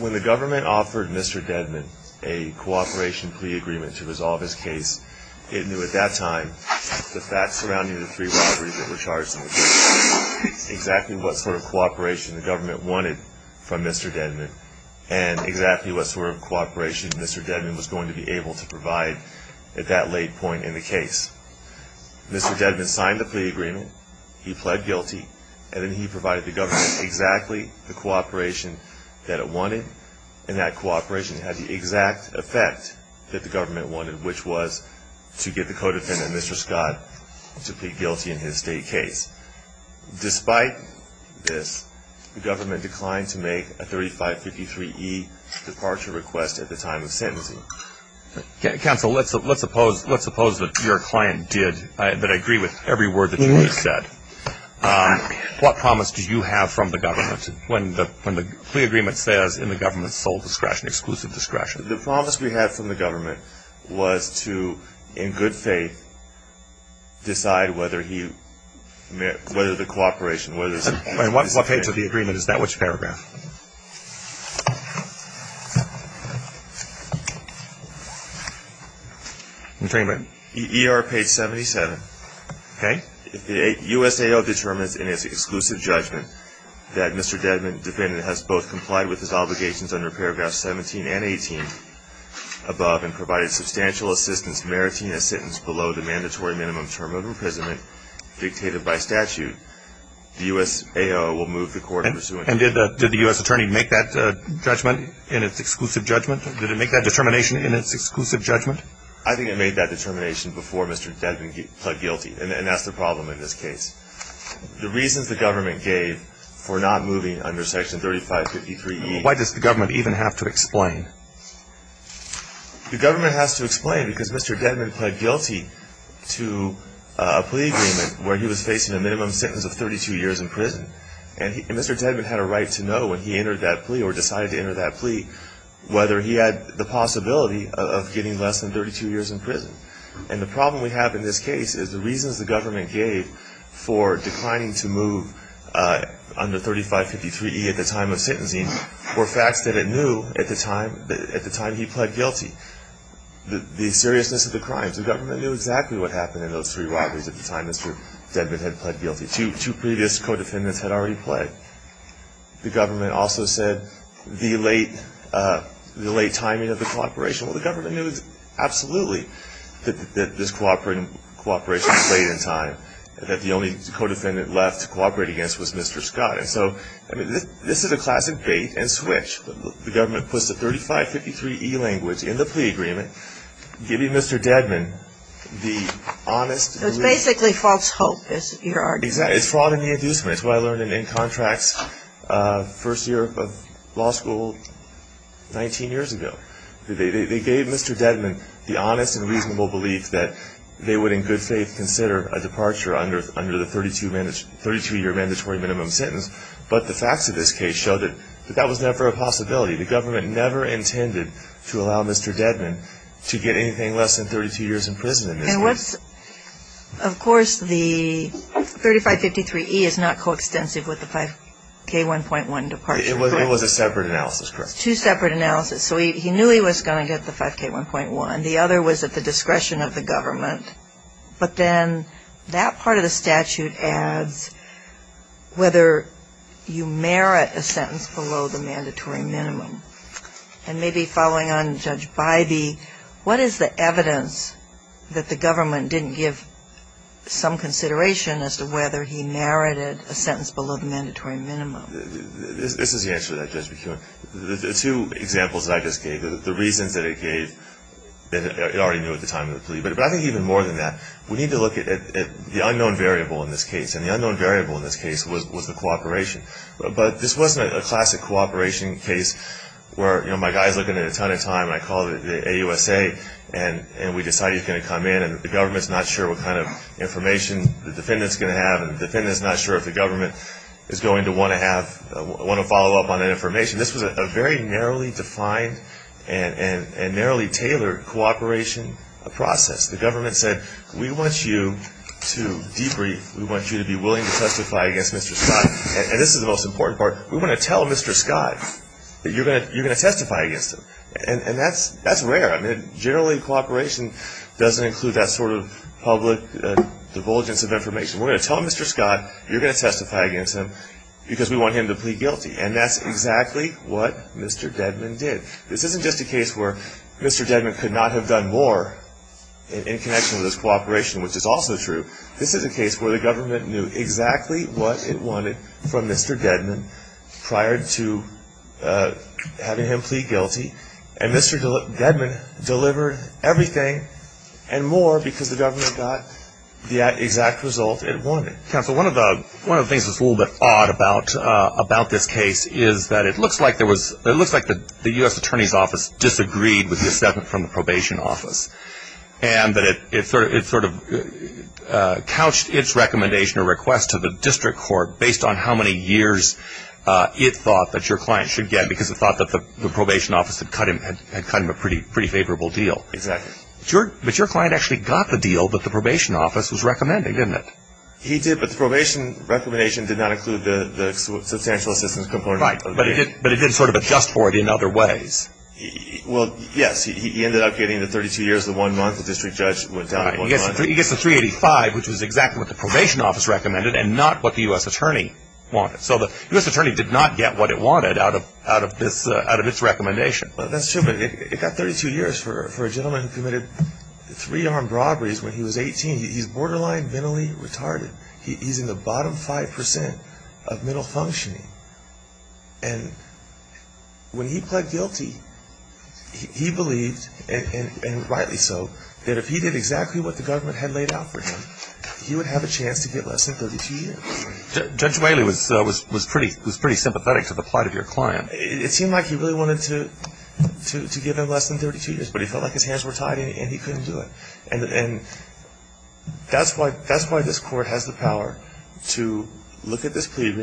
When the government offered Mr. Dedmon a cooperation plea agreement to resolve his case, it knew at that time the facts surrounding the three robberies that were charged in the case, exactly what sort of cooperation the government wanted from Mr. Dedmon and exactly what sort of cooperation Mr. Dedmon was going to be able to provide at that late point in the case. Mr. Dedmon then signed the plea agreement, he pled guilty, and then he provided the government exactly the cooperation that it wanted, and that cooperation had the exact effect that the government wanted, which was to get the co-defendant, Mr. Scott, to plead guilty in his state case. Despite this, the government declined to make a 3553E departure request at the time of sentencing. Counsel, let's suppose that your client did, that I agree with every word that you said. What promise do you have from the government when the plea agreement says, in the government's sole discretion, exclusive discretion? The promise we had from the government was to, in good faith, decide whether the cooperation What page of the agreement is that? Which paragraph? E.R. page 77. Okay. If the USAO determines in its exclusive judgment that Mr. Dedmon defendant has both complied with his obligations under paragraphs 17 and 18 above and provided substantial assistance meriting a sentence below the mandatory minimum term of imprisonment dictated by statute, the USAO will move the court in pursuant to that. And did the US attorney make that judgment in its exclusive judgment? Did it make that determination in its exclusive judgment? I think it made that determination before Mr. Dedmon pled guilty, and that's the problem in this case. The reasons the government gave for not moving under section 3553E Why does the government even have to explain? The government has to explain because Mr. Dedmon pled guilty to a plea agreement where he was facing a minimum sentence of 32 years in prison. And Mr. Dedmon had a right to know when he entered that plea or decided to enter that plea whether he had the possibility of getting less than 32 years in prison. And the problem we have in this case is the reasons the government gave for declining to move under 3553E at the time of sentencing were facts that it knew at the time he pled guilty, the seriousness of the crimes. The government knew exactly what happened in those three robberies at the time Mr. Dedmon had pled guilty. Two previous co-defendants had already pled. The government also said the late timing of the cooperation. Well, the government knew absolutely that this cooperation was late in time and that the only co-defendant left to cooperate against was Mr. Scott. And so this is a classic bait and switch. The government puts the 3553E language in the plea agreement, giving Mr. Dedmon the honest and reasonable belief that they would in good faith consider a departure under the 32-year mandatory minimum sentence. But the facts of this case show that that was never a possibility. The government never intended to allow Mr. Dedmon to get anything less than 32 years in prison in this case. Of course, the 3553E is not co-extensive with the 5K1.1 departure, correct? It was a separate analysis, correct. Two separate analyses. So he knew he was going to get the 5K1.1. The other was at the discretion of the government. But then that part of the statute adds whether you merit a sentence below the mandatory minimum. And maybe following on, Judge Bybee, what is the evidence that the government didn't give some consideration as to whether he merited a sentence below the mandatory minimum? This is the answer to that, Judge McKeown. The two examples that I just gave, the reasons that it gave, it already knew at the time of the plea. But I think even more than that, we need to look at the unknown variable in this case. And the unknown variable in this case was the cooperation. But this wasn't a classic cooperation case where, you know, my guy is looking at a ton of time and I call the AUSA and we decide he's going to come in and the government is not sure what kind of information the defendant is going to have and the defendant is not sure if the government is going to want to have, want to follow up on that information. This was a very narrowly defined and narrowly tailored cooperation process. The government said, we want you to debrief. We want you to be willing to testify against Mr. Scott. And this is the most important part. We want to tell Mr. Scott that you're going to testify against him. And that's rare. I mean, generally cooperation doesn't include that sort of public divulgence of information. We're going to tell Mr. Scott you're going to testify against him because we want him to plead guilty. And that's exactly what Mr. Dedman did. This isn't just a case where Mr. Dedman could not have done more in connection with his cooperation, which is also true. This is a case where the government knew exactly what it wanted from Mr. Dedman prior to having him plead guilty. And Mr. Dedman delivered everything and more because the government got the exact result it wanted. Counsel, one of the things that's a little bit odd about this case is that it looks like there was, it looks like the U.S. Attorney's Office disagreed with the assessment from the district court based on how many years it thought that your client should get because it thought that the probation office had cut him a pretty favorable deal. Exactly. But your client actually got the deal that the probation office was recommending, didn't it? He did, but the probation recommendation did not include the substantial assistance component. Right. But it did sort of adjust for it in other ways. Well, yes. He ended up getting the 32 years, the one month, the district judge went down to one month. He gets the 385, which was exactly what the probation office recommended and not what the U.S. Attorney wanted. So the U.S. Attorney did not get what it wanted out of this, out of its recommendation. Well, that's true, but it got 32 years for a gentleman who committed three armed robberies when he was 18. He's borderline mentally retarded. He's in the bottom 5% of mental functioning. And when he pled guilty, he believed, and rightly so, that if he did exactly what the government had laid out for him, he would have a chance to get less than 32 years. Judge Whaley was pretty sympathetic to the plight of your client. It seemed like he really wanted to give him less than 32 years, but he felt like his hands were tied and he couldn't do it. And that's why this court has the power to look at this case,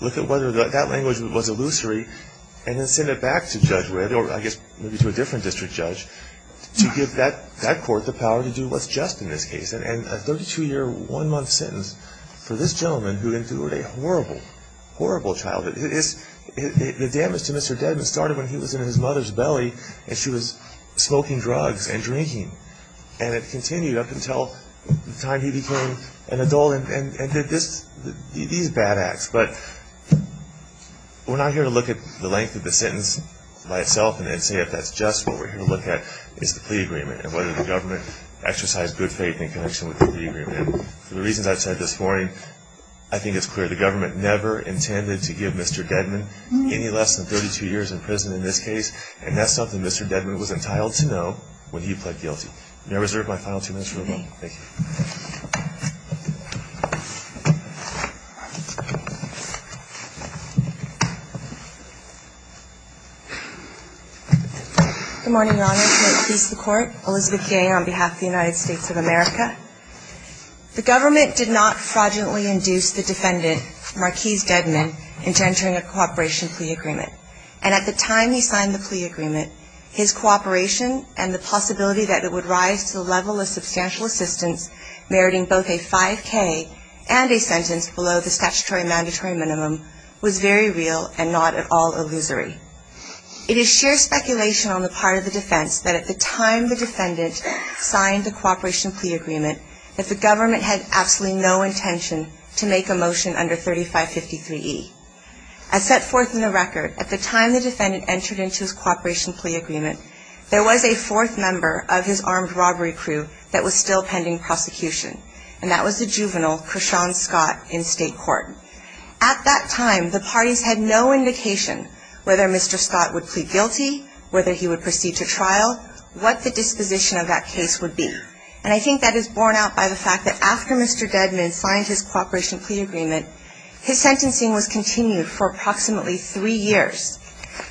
look at whether that language was illusory, and then send it back to Judge Redd, or I guess maybe to a different district judge, to give that court the power to do what's just in this case. And a 32-year, one-month sentence for this gentleman who endured a horrible, horrible childhood. The damage to Mr. Dedman started when he was in his mother's belly and she was smoking drugs and drinking. And it continued up until the time he became an adult and did these bad acts. But we're not here to look at the length of the sentence by itself and say if that's just what we're here to look at is the plea agreement and whether the government exercised good faith in connection with the plea agreement. For the reasons I've said this morning, I think it's clear the government never intended to give Mr. Dedman any less than 32 years in prison in this case, and that's something Mr. Dedman was entitled to know when he pled guilty. May I reserve my final two minutes for rebuttal? Thank you. Good morning, Your Honor. May it please the Court. Elizabeth Gay on behalf of the United States of America. The government did not fraudulently induce the defendant, Marquise Dedman, into entering a cooperation plea agreement. And at the time he signed the plea agreement, his cooperation and the possibility that it would rise to the level of substantial assistance meriting both a 5K and a sentence below the statutory mandatory minimum was very real and not at all illusory. It is sheer speculation on the part of the defense that at the time the defendant signed the cooperation plea agreement that the government had absolutely no intention to make a motion under 3553E. As set forth in the record, at the time the defendant entered into his cooperation plea agreement, there was a fourth member of his armed robbery crew that was still pending prosecution, and that was the juvenile, Kershawn Scott, in state court. At that time, the parties had no indication whether Mr. Scott would plead guilty, whether he would proceed to trial, what the disposition of that case would be. And I think that is borne out by the fact that after Mr. Dedman signed his cooperation plea agreement, his sentencing was continued for approximately three years.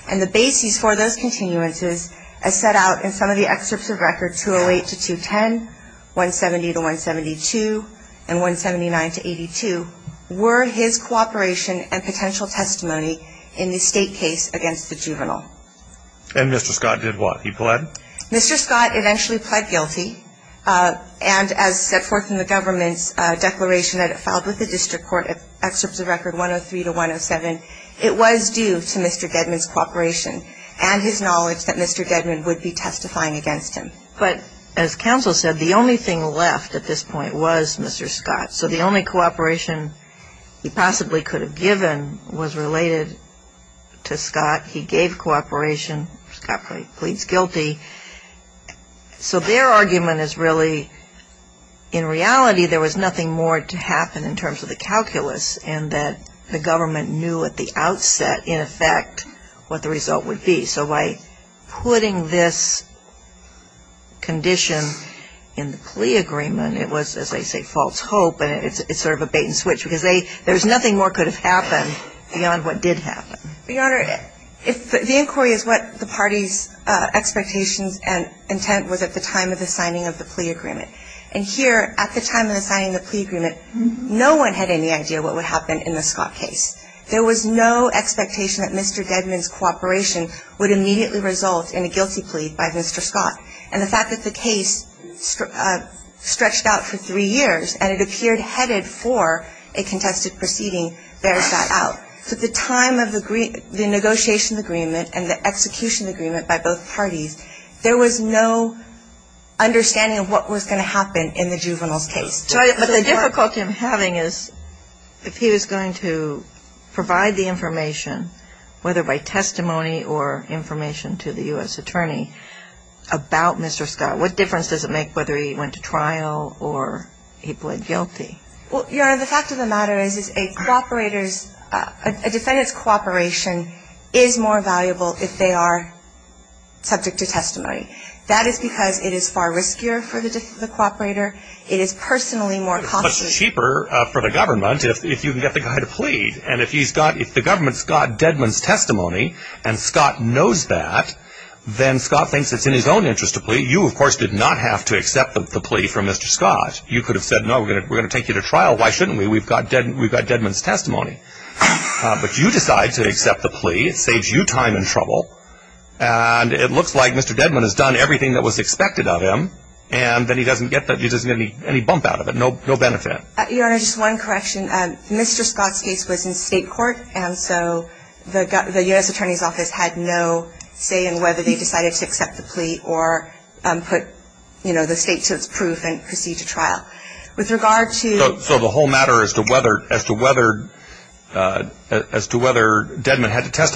And the basis for those continuances, as set out in some of the excerpts of record 208 to 210, 170 to 172, and 179 to 82, were his cooperation and potential testimony in the state case against the juvenile. And Mr. Scott did what? He pled? Mr. Scott eventually pled guilty, and as set forth in the government's declaration that it filed with the district court, excerpts of record 103 to 107, it was due to Mr. Dedman's cooperation and his knowledge that Mr. Dedman would be testifying against him. But as counsel said, the only thing left at this point was Mr. Scott. So the only cooperation he possibly could have given was related to Scott. He gave cooperation. Scott pleads guilty. So their argument is really, in reality, there was nothing more to happen in terms of the outcome of the plea agreement. And it was, as I say, false hope, and it's sort of a bait and switch, because there was nothing more could have happened beyond what did happen. Your Honor, the inquiry is what the party's expectations and intent was at the time of the signing of the plea agreement. And here, at the time of the signing of the plea agreement, no one had any idea what would happen in the Scott case. There was no expectation that Mr. Dedman's cooperation would immediately result in a guilty plea by Mr. Scott. And the fact that the case stretched out for three years and it appeared headed for a contested proceeding bears that out. So at the time of the negotiation agreement and the execution agreement by both parties, there was no understanding of what was going to happen in the juvenile's case. But the difficulty I'm having is, if he was going to provide the information, whether by testimony or information to the U.S. attorney, about Mr. Scott, what difference does it make whether he went to trial or he pled guilty? Well, Your Honor, the fact of the matter is, is a cooperator's, a defendant's cooperation is more valuable if they are subject to testimony. That is because it is far riskier for the cooperator. It is personally more costly. It's cheaper for the government if you can get the guy to plead. And if he's got, if the government's got Dedman's testimony and Scott knows that, then Scott thinks it's in his own interest to plead. You, of course, did not have to accept the plea from Mr. Scott. You could have said, no, we're going to take you to trial. Why not? Your Honor, just one correction. Mr. Scott's case was in state court, and so the U.S. attorney's office had no say in whether they decided to accept the plea or put, you know, the state to its proof and proceed to trial. With regard to So the whole matter as to whether, as to whether, as to whether Dedman had to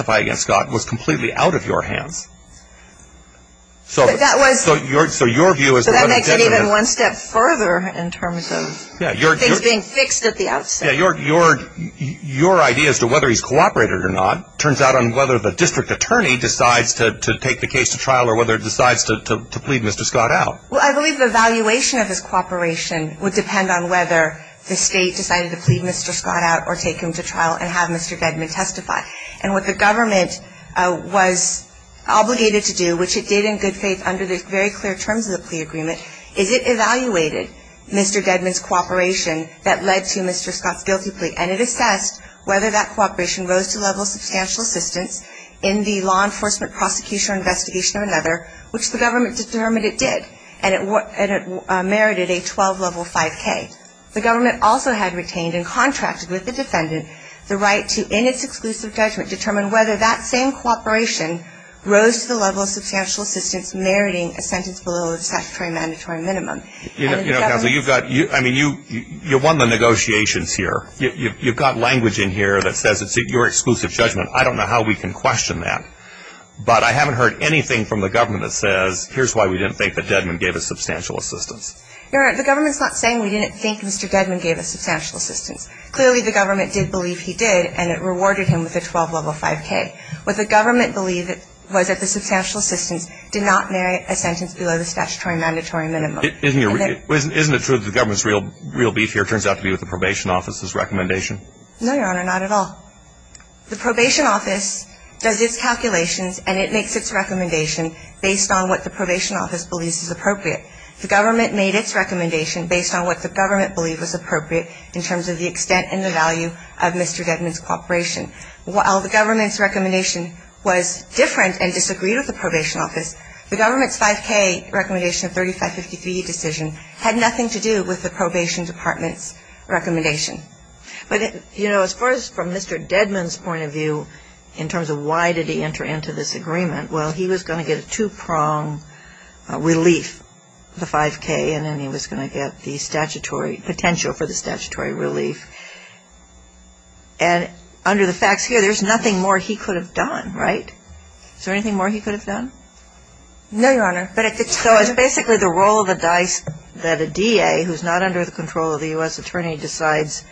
So that makes it even one step further in terms of things being fixed at the outset. Yeah. Your idea as to whether he's cooperated or not turns out on whether the district attorney decides to take the case to trial or whether it decides to plead Mr. Scott out. Well, I believe the valuation of his cooperation would depend on whether the state Mr. Dedman's cooperation that led to Mr. Scott's guilty plea, and it assessed whether that cooperation rose to the level of substantial assistance in the law enforcement prosecution or investigation or another, which the government determined it did, and it merited a 12 level 5K. The government also had retained and contracted with the defendant the right to, in its exclusive judgment, determine whether that same cooperation rose to the level of substantial assistance meriting a sentence below the statutory mandatory minimum. I mean, you won the negotiations here. You've got language in here that says it's your exclusive judgment. I don't know how we can question that. But I haven't heard anything from the government that says, here's why we didn't think that Dedman gave us substantial assistance. Your Honor, the government's not saying we didn't think Mr. Dedman gave us substantial assistance. Clearly, the government did believe he did, and it rewarded him with a 12 level 5K. What the government believed was that the substantial assistance did not merit a sentence below the statutory mandatory minimum. Isn't it true that the government's real beef here turns out to be with the probation office's recommendation? No, Your Honor, not at all. The probation office does its calculations, and it makes its recommendation based on what the probation office believes is appropriate. The government made its recommendation based on what the government believed was appropriate in terms of the extent and the value of Mr. Dedman's cooperation. While the government's recommendation was different and disagreed with the probation office, the government's 5K recommendation of 3553E decision had nothing to do with the probation department's recommendation. But, you know, as far as from Mr. Dedman's point of view in terms of why did he enter into this agreement, well, he was going to get a two-pronged relief, the 5K, and then he was going to get the statutory potential for the statutory relief. And under the facts here, there's nothing more he could have done, right? Is there anything more he could have done? No, Your Honor. So it's basically the roll of the dice that a DA who's not under the control of the U.S. attorney decides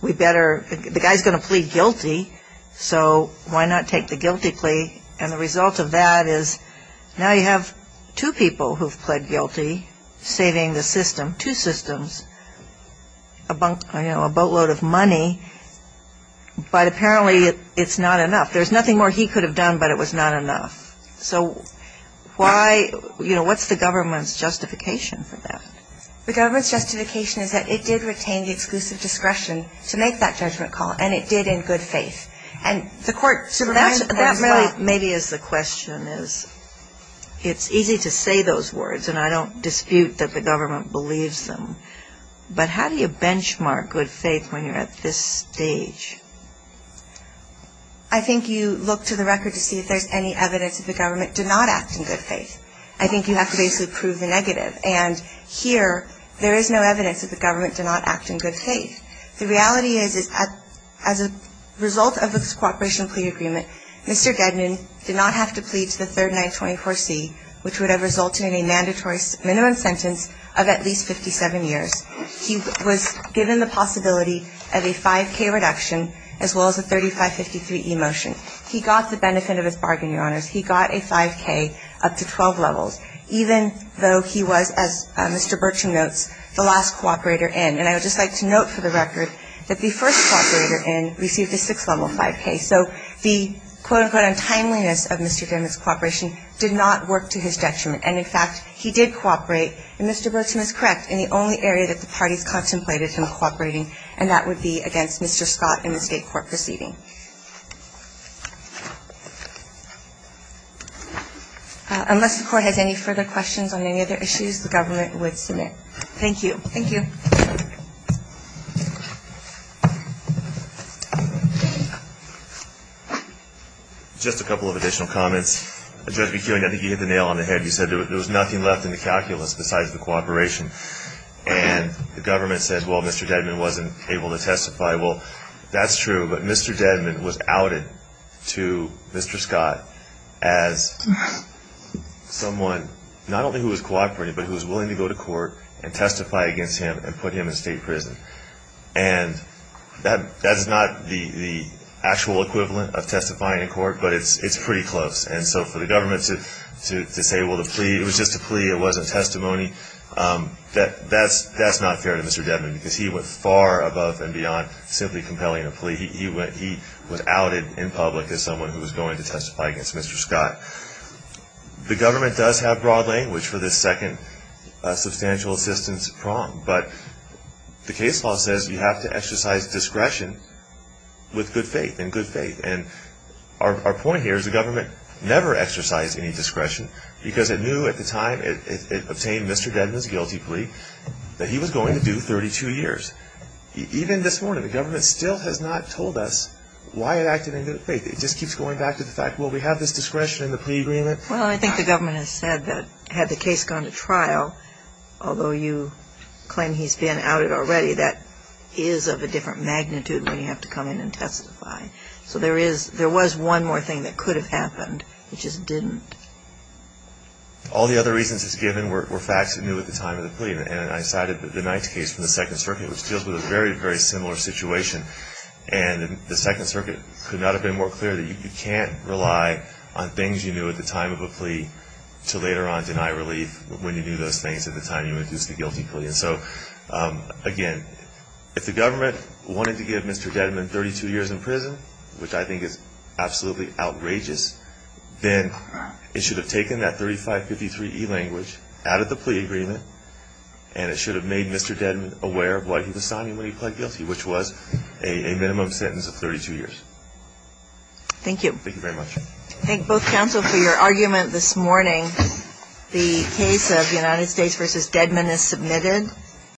we better the guy's going to plead guilty, so why not take the guilty who have pleaded guilty, and the result of that is now you have two people who have pled guilty saving the system, two systems, a boatload of money, but apparently it's not enough. There's nothing more he could have done, but it was not enough. So why, you know, what's the government's justification for that? The government's justification is that it did retain the exclusive discretion to make that judgment call, and it did in good faith. And the court So that really maybe is the question, is it's easy to say those words, and I don't dispute that the government believes them, but how do you benchmark good faith when you're at this stage? I think you look to the record to see if there's any evidence that the government did not act in good faith. I think you have to basically prove the negative, and here there is no evidence that the government did not act in good faith. The reality is, as a result of this cooperation plea agreement, Mr. Gednan did not have to plead to the third 924C, which would have resulted in a mandatory minimum sentence of at least 57 years. He was given the possibility of a 5K reduction as well as a 3553E motion. He got the benefit of his bargain, Your Honors. He got a 5K up to 12 levels, even though he was, as Mr. Bertram notes, the last cooperator in. And I would just like to note for the record that the first cooperator in received a 6-level 5K. So the, quote, unquote, untimeliness of Mr. Gednan's cooperation did not work to his detriment. And, in fact, he did cooperate, and Mr. Bertram is correct, in the only area that the parties contemplated him cooperating, and that would be against Mr. Scott and the State Court proceeding. Unless the Court has any further questions on any other issues, the government would submit. Thank you. Thank you. Just a couple of additional comments. Judge McKeown, I think you hit the nail on the head. You said there was nothing left in the calculus besides the cooperation. And the government said, well, Mr. Gednan wasn't able to testify. Well, that's true. But Mr. Gednan was outed to Mr. Scott as someone not only who was cooperating, but who was willing to go to court and testify against him and put him in state prison. And that's not the actual equivalent of testifying in court, but it's pretty close. And so for the government to say, well, the plea, it was just a plea, it wasn't testimony, that's not fair to Mr. Gednan because he went far above and beyond simply compelling a plea. He was outed in public as someone who was going to testify against Mr. Scott. The government does have broad language for this second substantial assistance prong. But the case law says you have to exercise discretion with good faith and good faith. Our point here is the government never exercised any discretion because it knew at the time it obtained Mr. Gednan's guilty plea that he was going to do 32 years. Even this morning, the government still has not told us why it acted in good faith. It just keeps going back to the fact, well, we have this discretion in the plea agreement. Well, I think the government has said that had the case gone to trial, although you claim he's been outed already, that is of a different magnitude when you have to come in and testify. So there was one more thing that could have happened. It just didn't. All the other reasons it's given were facts it knew at the time of the plea. And I cited the Knight's case from the Second Circuit, which deals with a very, very similar situation. And the Second Circuit could not have been more clear that you can't rely on things you knew at the time of a plea to later on deny relief when you knew those things at the time you induced the guilty plea. And so, again, if the government wanted to give Mr. Gednan 32 years in prison, which I think is absolutely outrageous, then it should have taken that 3553E language out of the plea agreement, and it should have made Mr. Gednan aware of why he was signing when he pled guilty, which was a minimum sentence of 32 years. Thank you. Thank you very much. I thank both counsel for your argument this morning. The case of United States v. Gednan is submitted.